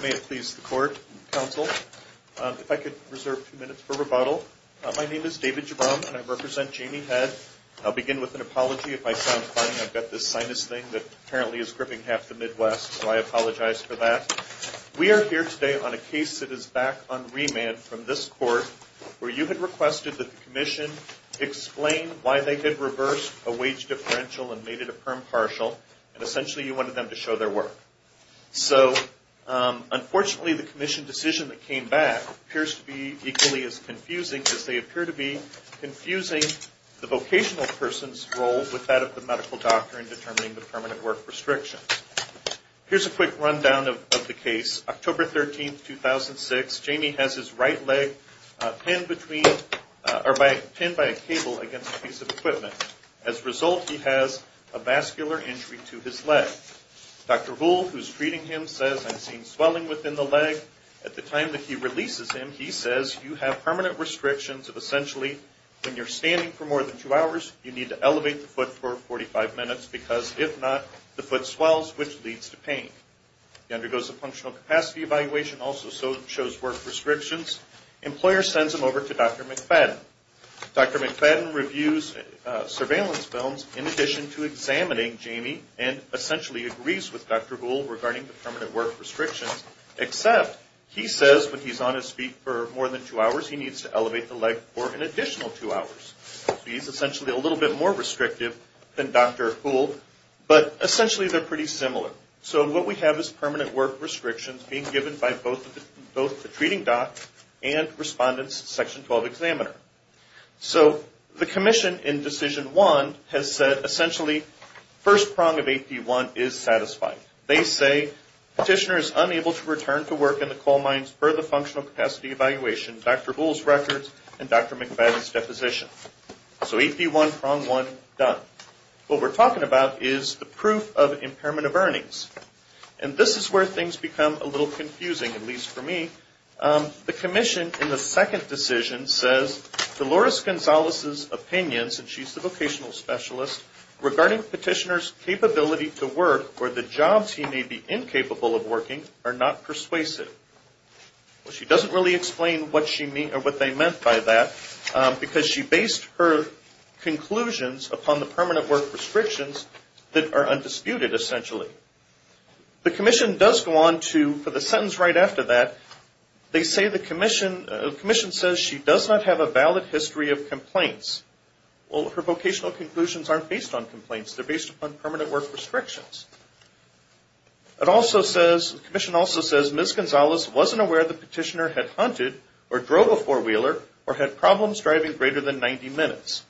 May it please the Court and Council, if I could reserve two minutes for rebuttal, my name is David Jabbam and I represent Jamie Head. I'll begin with an apology. If I sound funny I've got this sinus thing that apparently is gripping half the Midwest so I apologize for that. We are here today on a case that is back on remand from this court. It's called the commission decision where you had requested that the commission explain why they had reversed a wage differential and made it a perm partial and essentially you wanted them to show their work. So unfortunately the commission decision that came back appears to be equally as confusing as they appear to be confusing the vocational person's role with that of the medical doctor in determining the permanent work restrictions. Here's a quick rundown of the case. October 13, 2006, Jamie has his right leg pinned by a cable against a piece of equipment. As a result, he has a vascular injury to his leg. Dr. Gould, who's treating him, says I'm seeing swelling within the leg. At the time that he releases him, he says you have permanent restrictions of essentially when you're standing for more than two hours, you need to elevate the foot for 45 minutes because if not, the foot swells which leads to pain. He undergoes a functional capacity evaluation, also shows work restrictions. The employer sends him over to Dr. McFadden. Dr. McFadden reviews surveillance films in addition to examining Jamie and essentially agrees with Dr. Gould regarding the permanent work restrictions except he says when he's on his feet for more than two hours, he needs to elevate the leg for an additional two hours. He's essentially a little bit more restrictive than Dr. Gould but essentially they're pretty similar. So what we have is permanent work restrictions being given by both the treating doc and respondent's section 12 examiner. So the commission in decision one has said essentially first prong of AP1 is satisfied. They say petitioner is unable to return to work in the coal mines for the functional capacity evaluation, Dr. Gould's records, and Dr. McFadden's deposition. So AP1 prong one done. What we're talking about is the proof of impairment of earnings. And this is where things become a little confusing, at least for me. The commission in the second decision says Dolores Gonzalez's opinions, and she's the vocational specialist, regarding petitioner's capability to work or the jobs he may be incapable of working are not persuasive. She doesn't really explain what they meant by that because she based her conclusions upon the permanent work restrictions that are undisputed essentially. The commission does go on to, for the sentence right after that, they say the commission says she does not have a valid history of complaints. Well, her vocational conclusions aren't based on complaints, they're based upon permanent work restrictions. It also says, the commission also says Ms. Gonzalez wasn't aware the petitioner had hunted or drove a four-wheeler or had problems driving greater than 90 minutes.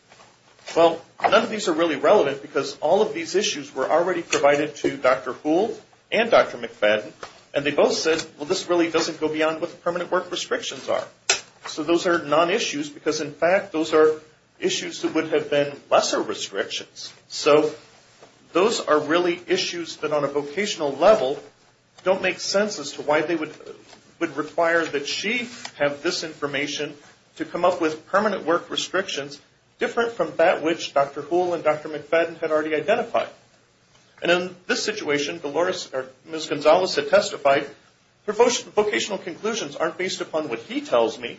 Well, none of these are really relevant because all of these issues were already provided to Dr. Gould and Dr. McFadden and they both said, well, this really doesn't go beyond what the permanent work restrictions are. So those are non-issues because, in fact, those are issues that would have been lesser restrictions. So those are really issues that on a vocational level don't make sense as to why they would require that she have this information to come up with permanent work restrictions different from that which Dr. Gould and Dr. McFadden had already identified. And in this situation, Ms. Gonzalez had testified, her vocational conclusions aren't based upon what he tells me.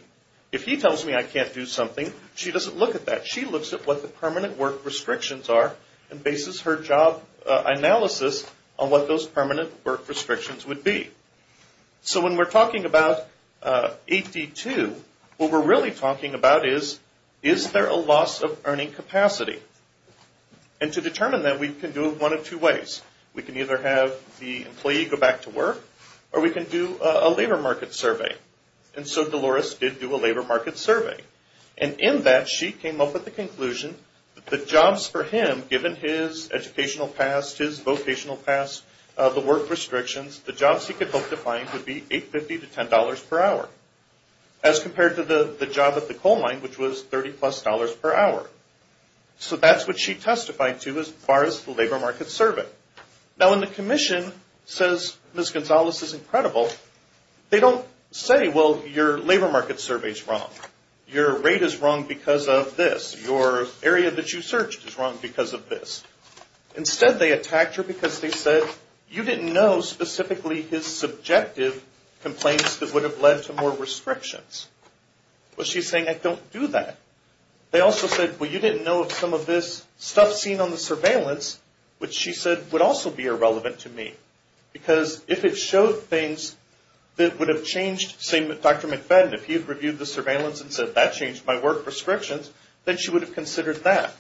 If he tells me I can't do something, she doesn't look at that. She looks at what the permanent work restrictions are and bases her job analysis on what those permanent work restrictions would be. So when we're talking about AD2, what we're really talking about is, is there a loss of earning capacity? And to determine that, we can do it one of two ways. We can either have the employee go back to work or we can do a labor market survey. And so Dolores did do a labor market survey. And in that, she came up with the conclusion that the jobs for him, given his educational past, his vocational past, the work restrictions, the jobs he could hope to find would be $8.50 to $10 per hour as compared to the job at the coal mine which was $30 plus per hour. So that's what she testified to as far as the labor market survey. Now when the commission says Ms. Gonzalez is incredible, they don't say, well, you're labor market survey is wrong. Your rate is wrong because of this. Your area that you searched is wrong because of this. Instead, they attacked her because they said, you didn't know specifically his subjective complaints that would have led to more restrictions. Well, she's saying, I don't do that. They also said, well, you didn't know some of this stuff seen on the surveillance, which she said would also be irrelevant to me. Because if it showed things that would have changed, say, Dr. McFadden, if he had reviewed the surveillance and said, that changed my work restrictions, then she would have considered that.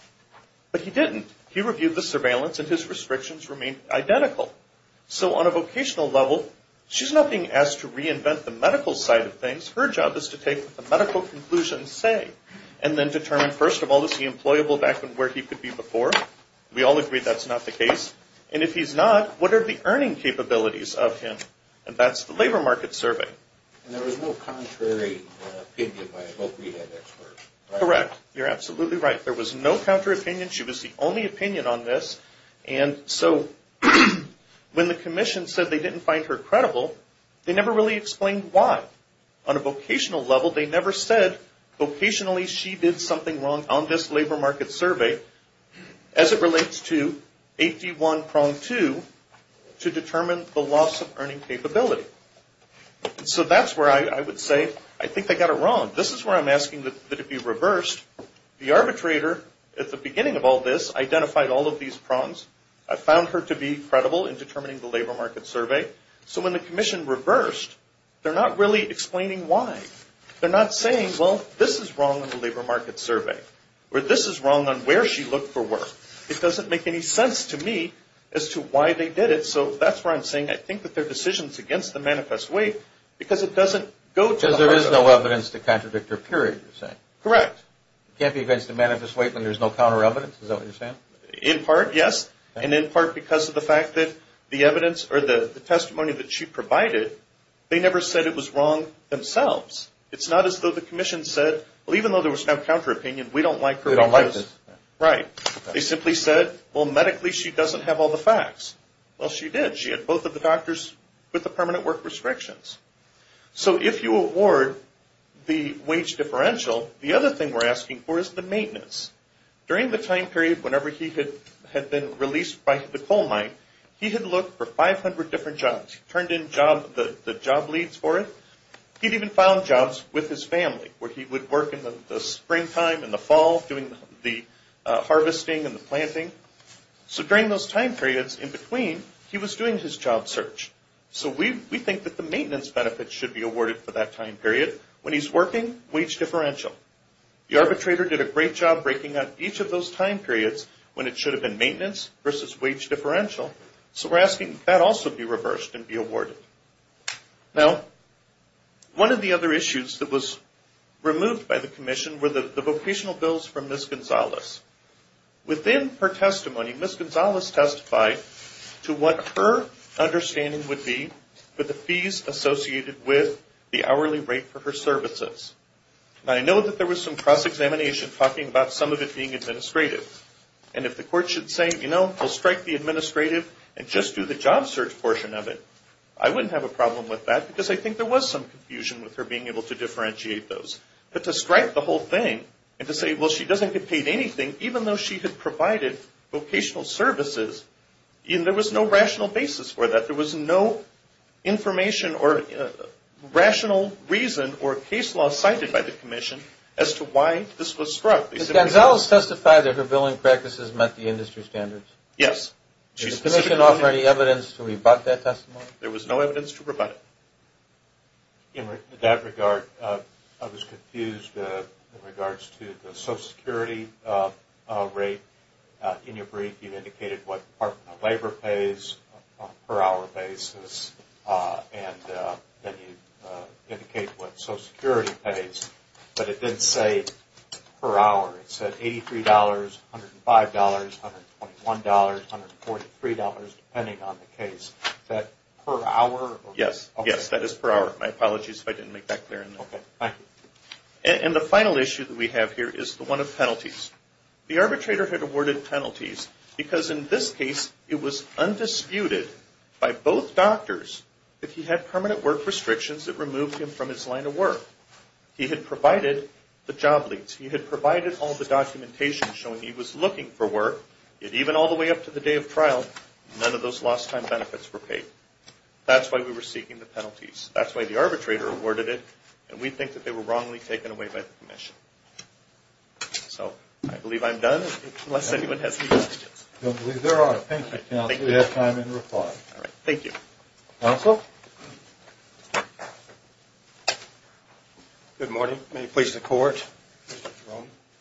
But he didn't. He reviewed the surveillance and his restrictions remained identical. So on a vocational level, she's not being asked to reinvent the medical side of things. Her job is to take the medical conclusion and say, and then determine, first of all, is he employable back where he could be before? We all agree that's not the case. And if he's not, what are the earning capabilities of him? And that's the labor market survey. And there was no contrary opinion by both rehab experts. Correct. You're absolutely right. There was no counter opinion. She was the only opinion on this. And so when the commission said they didn't find her credible, they never really explained why. On a vocational level, they never said, vocationally, she did something wrong on this labor market survey. As it relates to safety one, prong two, to determine the loss of earning capability. So that's where I would say, I think they got it wrong. This is where I'm asking that it be reversed. The arbitrator, at the beginning of all this, identified all of these prongs. I found her to be credible in determining the labor market survey. So when the commission reversed, they're not really explaining why. They're not saying, well, this is wrong on the labor market survey. Or this is wrong on where she looked for work. It doesn't make any sense to me as to why they did it. So that's where I'm saying, I think that their decision is against the manifest weight because it doesn't go to the arbitrator. Because there is no evidence to contradict her, period, you're saying. Correct. It can't be against the manifest weight when there's no counter evidence. Is that what you're saying? In part, yes. And in part because of the fact that the evidence or the testimony that she provided, they never said it was wrong themselves. It's not as though the commission said, well, even though there was no counter opinion, we don't like her. We don't like this. Right. They simply said, well, medically, she doesn't have all the facts. Well, she did. She had both of the doctors with the permanent work restrictions. So if you award the wage differential, the other thing we're asking for is the maintenance. During the time period whenever he had been released by the coal mine, he had looked for 500 different jobs. He turned in the job leads for it. He'd even found jobs with his family where he would work in the springtime, in the fall, doing the harvesting and the planting. So during those time periods in between, he was doing his job search. So we think that the maintenance benefits should be awarded for that time period. When he's working, wage differential. The arbitrator did a great job breaking up each of those time periods when it should have been maintenance versus wage differential. So we're asking that also be reversed and be awarded. Now, one of the other issues that was removed by the commission were the vocational bills from Ms. Gonzalez. Within her testimony, Ms. Gonzalez testified to what her understanding would be for the fees associated with the hourly rate for her services. Now, I know that there was some cross-examination talking about some of it being administrative. And if the court should say, you know, we'll strike the administrative and just do the job search portion of it, I wouldn't have a problem with that because I think there was some confusion with her being able to differentiate those. But to strike the whole thing and to say, well, she doesn't get paid anything even though she had provided vocational services, there was no rational basis for that. There was no information or rational reason or case law cited by the commission as to why this was struck. Did Gonzalez testify that her billing practices met the industry standards? Yes. Did the commission offer any evidence to rebut that testimony? There was no evidence to rebut it. In that regard, I was confused in regards to the Social Security rate. In your brief, you indicated what Department of Labor pays per hour basis. And then you indicated what Social Security pays. But it didn't say per hour. It said $83, $105, $121, $143, depending on the case. Is that per hour? Yes. Yes, that is per hour. My apologies if I didn't make that clear. And the final issue that we have here is the one of penalties. The arbitrator had awarded penalties because in this case it was undisputed by both doctors that he had permanent work restrictions that removed him from his line of work. He had provided the job leads. He had provided all the documentation showing he was looking for work. Yet even all the way up to the day of trial, none of those lost time benefits were paid. That's why we were seeking the penalties. That's why the arbitrator awarded it. And we think that they were wrongly taken away by the commission. So I believe I'm done unless anyone has any questions. I believe there are. Thank you, counsel. We have time in reply. Counsel? Good morning. May it please the court.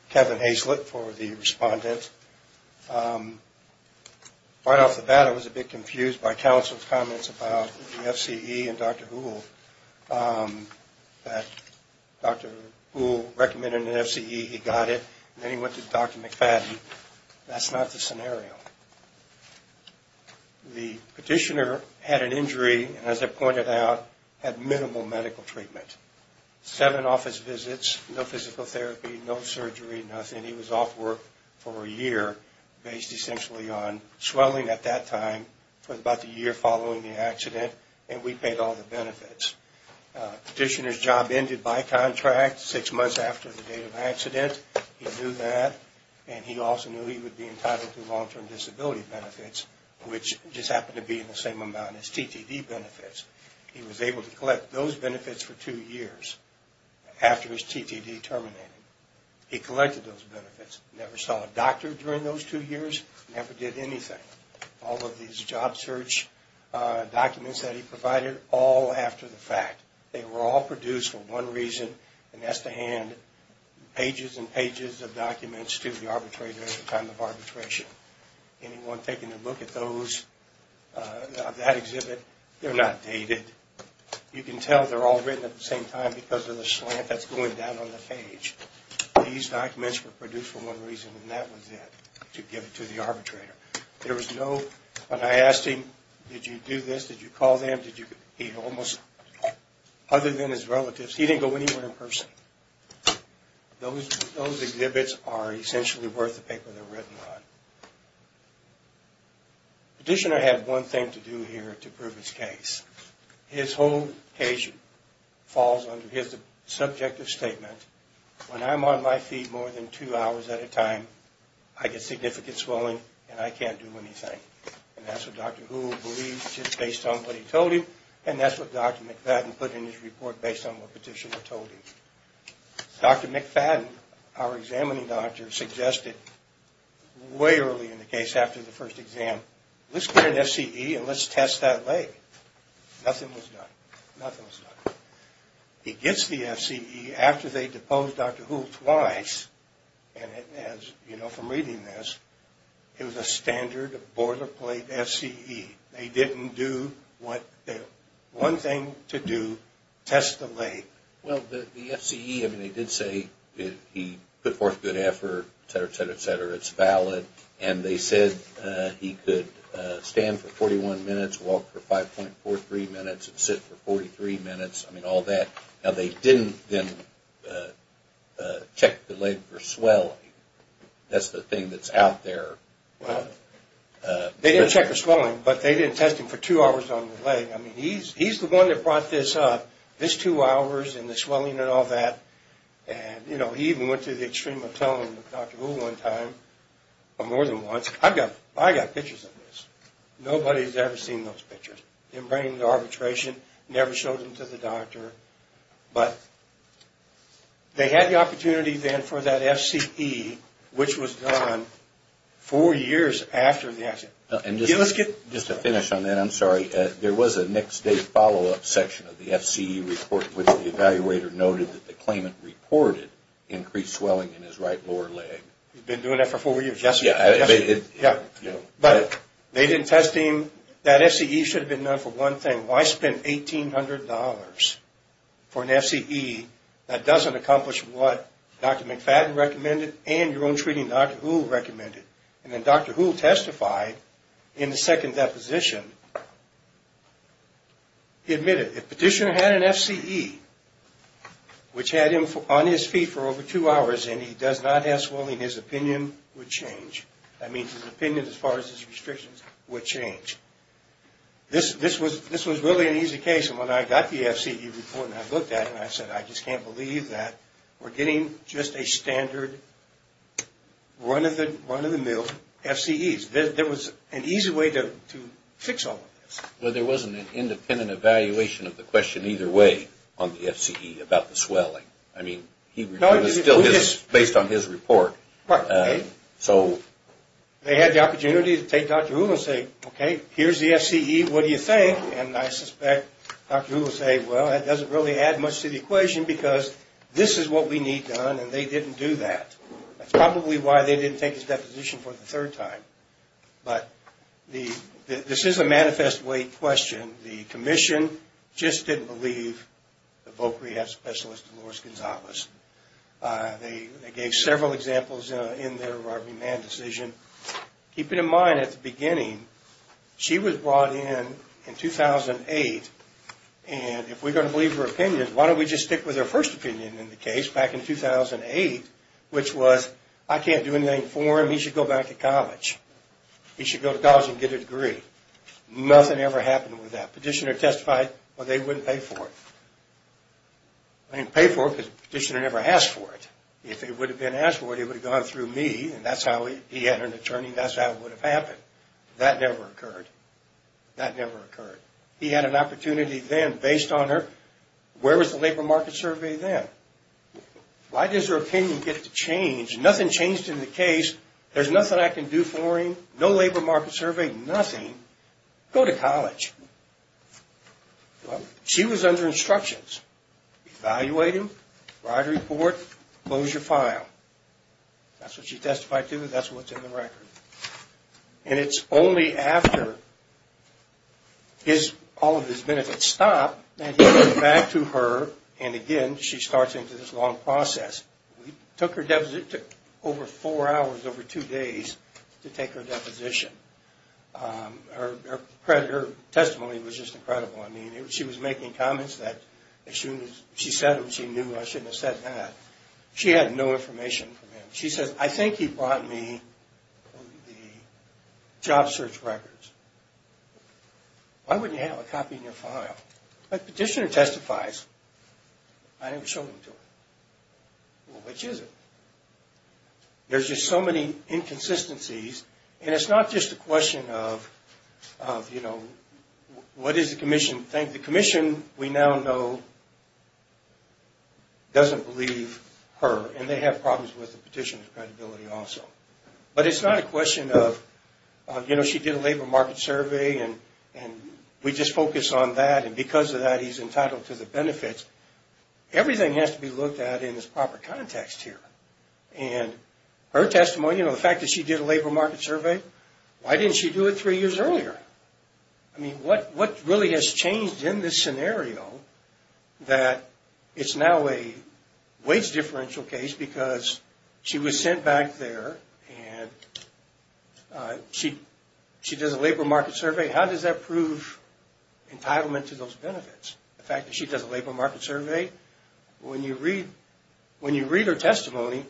Kevin Haislip for the respondent. Right off the bat I was a bit confused by counsel's comments about the FCE and Dr. As I pointed out, had minimal medical treatment. Seven office visits, no physical therapy, no surgery, nothing. He was off work for a year based essentially on swelling at that time for about the year following the accident. And we paid all the benefits. Petitioner's job ended by contract six months after the date of accident. He knew that. And he also knew he would be entitled to long-term disability benefits, which just happened to be in the same amount as TTD benefits. He was able to collect those benefits for two years after his TTD terminated. He collected those benefits, never saw a doctor during those two years, never did anything. All of these job search documents that he provided, all after the fact. They were all produced for one reason, and that's to hand pages and pages of documents to the arbitrator at the time of arbitration. Anyone taking a look at those, at that exhibit, they're not dated. You can tell they're all written at the same time because of the slant that's going down on the page. These documents were produced for one reason and that was it, to give it to the arbitrator. There was no, when I asked him, did you do this, did you call them, did you, he almost, other than his relatives, he didn't go anywhere in person. Those exhibits are essentially worth the paper they're written on. Petitioner had one thing to do here to prove his case. His whole case falls under his subjective statement. When I'm on my feet more than two hours at a time, I get significant swelling and I can't do anything. And that's what Dr. Houle believed just based on what he told him, and that's what Dr. McFadden put in his report based on what Petitioner told him. Dr. McFadden, our examining doctor, suggested way early in the case, after the first exam, let's get an FCE and let's test that leg. Nothing was done. Nothing was done. He gets the FCE after they deposed Dr. Houle twice, and as you know from reading this, it was a standard boilerplate FCE. They didn't do what, one thing to do, test the leg. Well, the FCE, I mean, they did say he put forth good effort, et cetera, et cetera, et cetera. It's valid. And they said he could stand for 41 minutes, walk for 5.43 minutes, and sit for 43 minutes. I mean, all that. Now, they didn't then check the leg for swelling. That's the thing that's out there. Well, they didn't check the swelling, but they didn't test him for two hours on the leg. I mean, he's the one that brought this up, this two hours and the swelling and all that. And, you know, he even went to the extreme of telling Dr. Houle one time, or more than once, I've got pictures of this. Nobody's ever seen those pictures. They didn't bring him to arbitration, never showed him to the doctor. But they had the opportunity then for that FCE, which was done four years after the accident. And just to finish on that, I'm sorry, there was a next day follow-up section of the FCE report, which the evaluator noted that the claimant reported increased swelling in his right lower leg. He's been doing that for four years. But they didn't test him. That FCE should have been done for one thing. Well, I spent $1,800 for an FCE that doesn't accomplish what Dr. McFadden recommended and your own treating Dr. Houle recommended. And then Dr. Houle testified in the second deposition. He admitted, if Petitioner had an FCE which had him on his feet for over two hours and he does not have swelling, his opinion would change. I mean, his opinion as far as his restrictions would change. This was really an easy case. And when I got the FCE report and I looked at it and I said, I just can't believe that we're getting just a standard run-of-the-mill FCEs. There was an easy way to fix all of this. Well, there wasn't an independent evaluation of the question either way on the FCE about the swelling. I mean, it was still based on his report. They had the opportunity to take Dr. Houle and say, okay, here's the FCE, what do you think? And I suspect Dr. Houle would say, well, that doesn't really add much to the equation because this is what we need done and they didn't do that. That's probably why they didn't take his deposition for the third time. But this is a manifest weight question. The Commission just didn't believe the Voc Rehab Specialist, Dolores Gonzalez. They gave several examples in their robbery man decision. Keeping in mind at the beginning, she was brought in in 2008 and if we're going to believe her opinion, why don't we just stick with her first opinion in the case back in 2008, which was, I can't do anything for him, he should go back to college. He should go to college and get a degree. Nothing ever happened with that. Petitioner testified, well, they wouldn't pay for it. They didn't pay for it because the petitioner never asked for it. If they would have been asked for it, it would have gone through me and that's how he had an attorney, that's how it would have happened. That never occurred. That never occurred. He had an opportunity then based on her, where was the labor market survey then? Why does her opinion get to change? Nothing changed in the case. There's nothing I can do for him. No labor market survey, nothing. Go to college. She was under instructions. Evaluate him, write a report, close your file. That's what she testified to, that's what's in the record. And it's only after all of his benefits stop that he goes back to her and again, she starts into this long process. It took over four hours, over two days to take her deposition. Her testimony was just incredible. I mean, she was making comments that as soon as she said them, she knew I shouldn't have said that. She had no information from him. She says, I think he brought me the job search records. Why wouldn't you have a copy in your file? But the petitioner testifies. I didn't show them to her. Well, which is it? There's just so many inconsistencies and it's not just a question of, you know, what is the commission think? The commission, we now know, doesn't believe her and they have problems with the petitioner's credibility also. But it's not a question of, you know, she did a labor market survey and we just focus on that and because of that he's entitled to the benefits. Everything has to be looked at in its proper context here. And her testimony, you know, the fact that she did a labor market survey, why didn't she do it three years earlier? I mean, what really has changed in this scenario that it's now a wage differential case because she was sent back there and she does a labor market survey. How does that prove entitlement to those benefits? The fact that she does a labor market survey, when you read her testimony,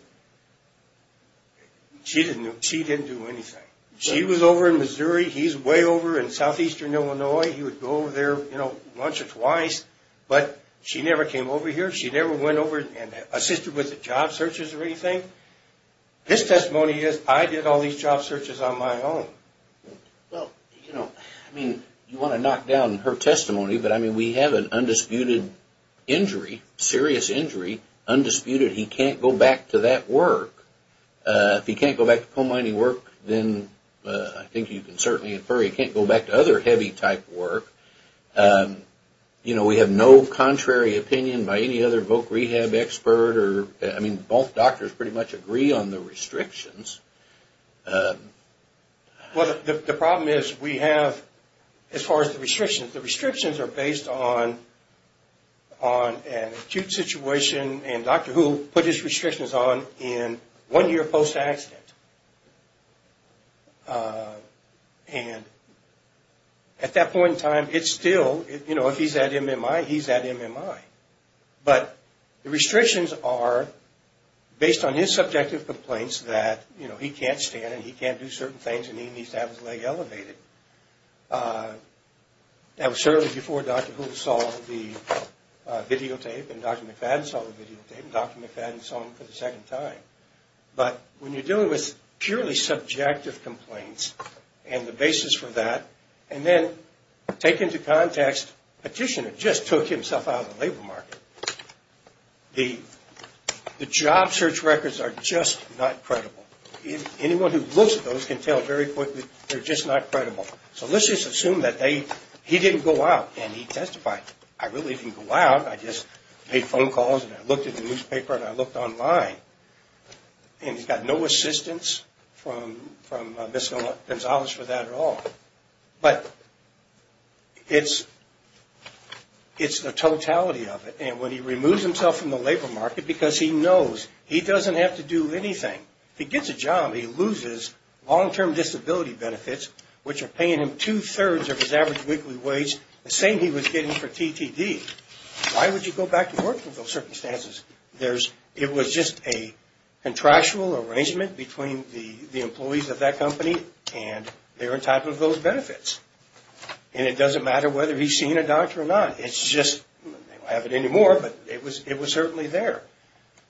she didn't do anything. She was over in Missouri. He's way over in southeastern Illinois. He would go over there, you know, once or twice, but she never came over here. She never went over and assisted with the job searches or anything. This testimony is, I did all these job searches on my own. Well, you know, I mean, you want to knock down her testimony, but I mean, we have an undisputed injury, serious injury, undisputed. He can't go back to that work. If he can't go back to coal mining work, then I think you can certainly infer he can't go back to other heavy type work. You know, we have no contrary opinion by any other voc rehab expert or, I mean, both doctors pretty much agree on the restrictions. Well, the problem is we have, as far as the restrictions, the restrictions are based on an acute situation and Dr. Hu put his restrictions on in one year post-accident. And at that point in time, it's still, you know, if he's at MMI, he's at MMI. But the restrictions are based on his subjective complaints that, you know, he can't stand and he can't do certain things and he needs to have his leg elevated. That was certainly before Dr. Hu saw the videotape and Dr. McFadden saw the videotape and Dr. McFadden saw them for the second time. But when you're dealing with purely subjective complaints and the basis for that, and then take into context a petitioner just took himself out of the labor market, the job search records are just not credible. Anyone who looks at those can tell very quickly they're just not credible. So let's just assume that he didn't go out and he testified. I really didn't go out. I just made phone calls and I looked at the newspaper and I looked online. And he's got no assistance from Ms. Gonzalez for that at all. But it's the totality of it. And when he removes himself from the labor market, because he knows he doesn't have to do anything, he gets a job, he loses long-term disability benefits, which are paying him two-thirds of his average weekly wage, the same he was getting for TTD. Why would you go back to work under those circumstances? It was just a contractual arrangement between the employees of that company and they were entitled to those benefits. And it doesn't matter whether he's seen a doctor or not. It's just, they don't have it anymore, but it was certainly there.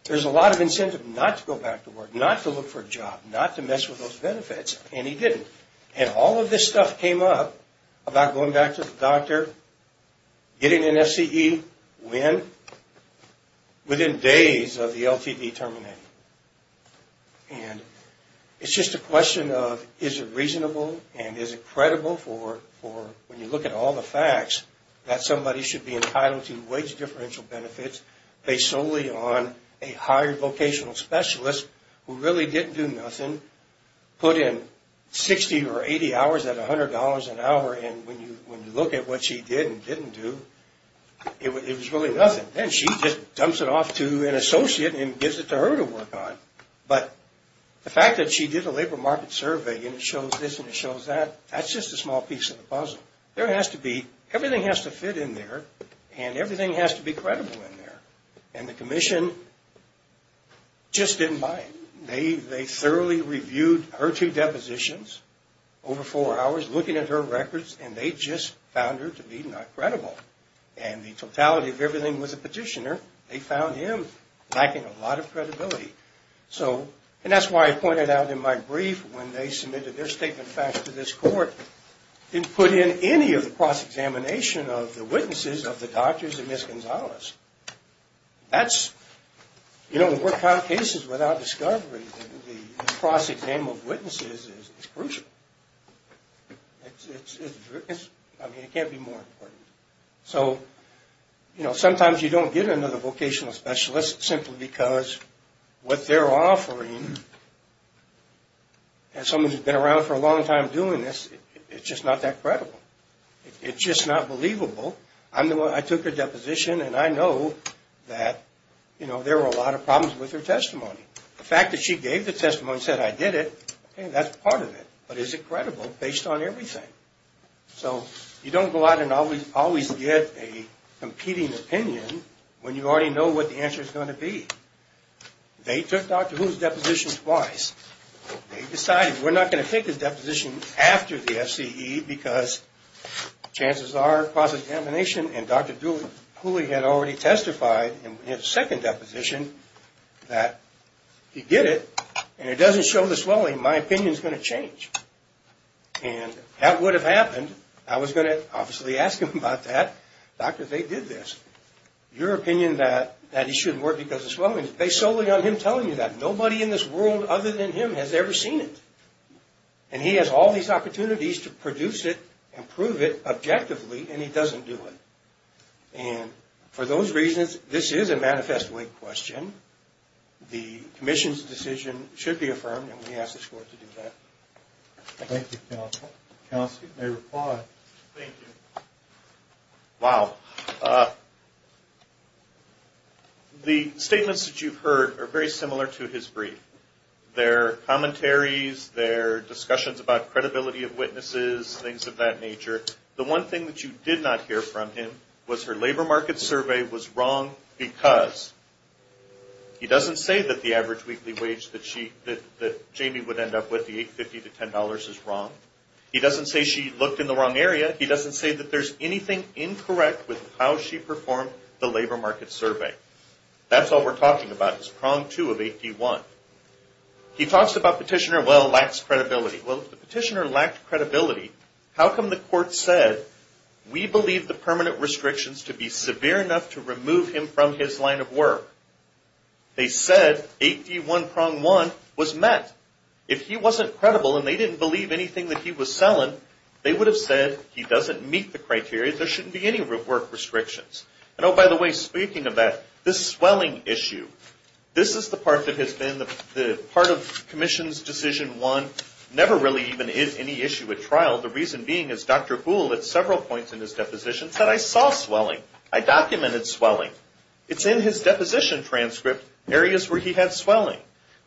There's a lot of incentive not to go back to work, not to look for a job, not to mess with those benefits, and he didn't. And all of this stuff came up about going back to the doctor, getting an FCE, when? Within days of the LTD terminating. And it's just a question of, is it reasonable and is it credible for, when you look at all the facts, that somebody should be entitled to wage differential benefits based solely on a hired vocational specialist who really didn't do nothing, put in 60 or 80 hours at $100 an hour, and when you look at what she did and didn't do, it was really nothing. And she just dumps it off to an associate and gives it to her to work on. But the fact that she did a labor market survey and it shows this and it shows that, that's just a small piece of the puzzle. There has to be, everything has to fit in there and everything has to be credible in there. And the commission just didn't buy it. They thoroughly reviewed her two depositions over four hours, looking at her records, and they just found her to be not credible. And the totality of everything was a petitioner. They found him lacking a lot of credibility. So, and that's why I pointed out in my brief when they submitted their statement of facts to this court, didn't put in any of the cross-examination of the witnesses of the doctors and Ms. Gonzalez. That's, you don't work out cases without discovery. The cross-exam of witnesses is crucial. It's, I mean, it can't be more important. So, you know, sometimes you don't get another vocational specialist simply because what they're offering, as someone who's been around for a long time doing this, it's just not that credible. It's just not believable. I'm the one, I took her deposition and I know that, you know, there were a lot of problems with her testimony. The fact that she gave the testimony and said, I did it, that's part of it. But is it credible based on everything? So, you don't go out and always get a competing opinion when you already know what the answer is going to be. They took Dr. Huli's deposition twice. They decided we're not going to take his deposition after the FCE because chances are cross-examination and Dr. Huli had already testified in his second deposition that he did it and it doesn't show the swelling, my opinion's going to change. And that would have happened. I was going to obviously ask him about that. Doctor, they did this. Your opinion that he shouldn't work because of swelling is based solely on him telling you that. Nobody in this world other than him has ever seen it. And he has all these opportunities to produce it and prove it objectively and he doesn't do it. And for those reasons, this is a manifest wing question. The commission's decision should be affirmed and we ask the court to do that. Thank you, counsel. Counsel, you may reply. Thank you. Wow. The statements that you've heard are very similar to his brief. Their commentaries, their discussions about credibility of witnesses, things of that nature. The one thing that you did not hear from him was her labor market survey was wrong because he doesn't say that the average weekly wage that Jamie would end up with, the $8.50 to $10 is wrong. He doesn't say she looked in the wrong area. He doesn't say that there's anything incorrect with how she performed the labor market survey. That's all we're talking about is prong two of 8D1. He talks about petitioner, well, lacks credibility. Well, if the petitioner lacked credibility, how come the court said we believe the permanent restrictions to be severe enough to remove him from his line of work? They said 8D1 prong one was met. If he wasn't credible and they didn't believe anything that he was selling, they would have said he doesn't meet the criteria. There shouldn't be any work restrictions. And, oh, by the way, speaking of that, this swelling issue, this is the part that has been the part of Commission's decision one, never really even is any issue at trial. The reason being is Dr. Boole at several points in his deposition said, I saw swelling. I documented swelling. It's in his deposition transcript, areas where he had swelling.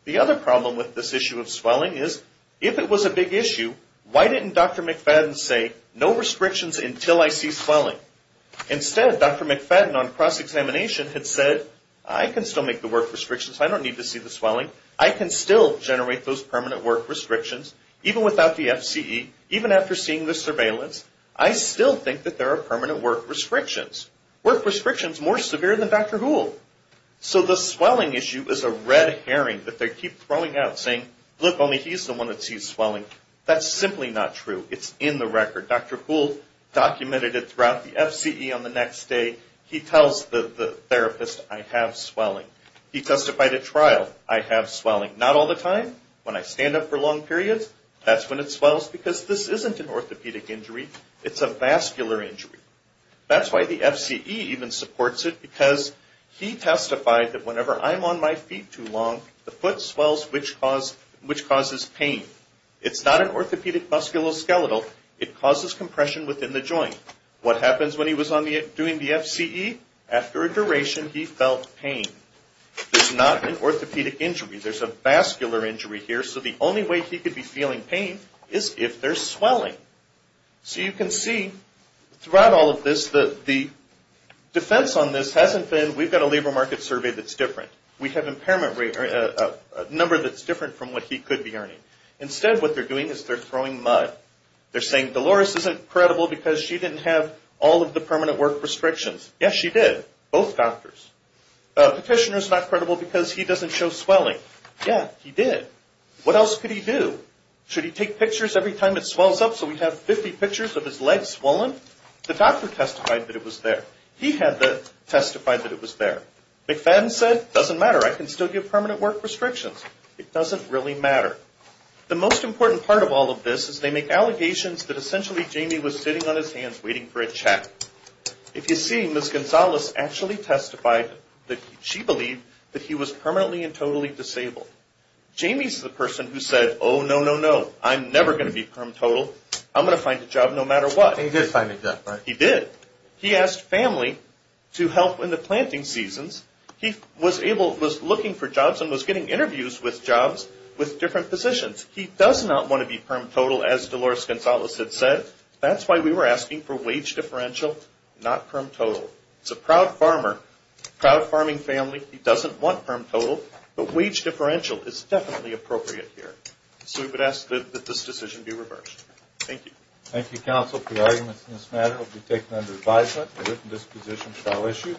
The other problem with this issue of swelling is if it was a big issue, why didn't Dr. McFadden say, no restrictions until I see swelling? Instead, Dr. McFadden on cross-examination had said, I can still make the work restrictions. I don't need to see the swelling. I can still generate those permanent work restrictions, even without the FCE, even after seeing the surveillance. I still think that there are permanent work restrictions. Work restrictions more severe than Dr. Boole. So the swelling issue is a red herring that they keep throwing out, saying, look, only he's the one that sees swelling. That's simply not true. It's in the record. Dr. Boole documented it throughout the FCE on the next day. He tells the therapist, I have swelling. He testified at trial, I have swelling. Not all the time. When I stand up for long periods, that's when it swells because this isn't an orthopedic injury. It's a vascular injury. The FCE even supports it because he testified that whenever I'm on my feet too long, the foot swells, which causes pain. It's not an orthopedic musculoskeletal. It causes compression within the joint. What happens when he was doing the FCE? After a duration, he felt pain. It's not an orthopedic injury. There's a vascular injury here, so the only way he could be feeling pain is if there's swelling. So you can see throughout all of this that the defense on this hasn't been, we've got a labor market survey that's different. We have a number that's different from what he could be earning. Instead, what they're doing is they're throwing mud. They're saying, Dolores isn't credible because she didn't have all of the permanent work restrictions. Yes, she did. Both doctors. Petitioner's not credible because he doesn't show swelling. Yeah, he did. What else could he do? Should he take pictures every time it swells up so we have 50 pictures of his legs swollen? The doctor testified that it was there. He had testified that it was there. McFadden said, doesn't matter. I can still give permanent work restrictions. It doesn't really matter. The most important part of all of this is they make allegations that essentially Jamie was sitting on his hands waiting for a check. If you see, Ms. Gonzalez actually testified that she believed that he was permanently and totally disabled. Jamie's the person who said, oh, no, no, no. I'm never going to be permanent total. I'm going to find a job no matter what. He did find a job, right? He did. He asked family to help in the planting seasons. He was looking for jobs and was getting interviews with jobs with different positions. He does not want to be permanent total, as Dolores Gonzalez had said. That's why we were asking for wage differential, not permanent total. He's a proud farmer, proud farming family. He doesn't want permanent total, but wage differential is definitely appropriate here. So we would ask that this decision be reversed. Thank you. Thank you, counsel, for your arguments in this matter. I'll be taking under advisement that this position shall issue.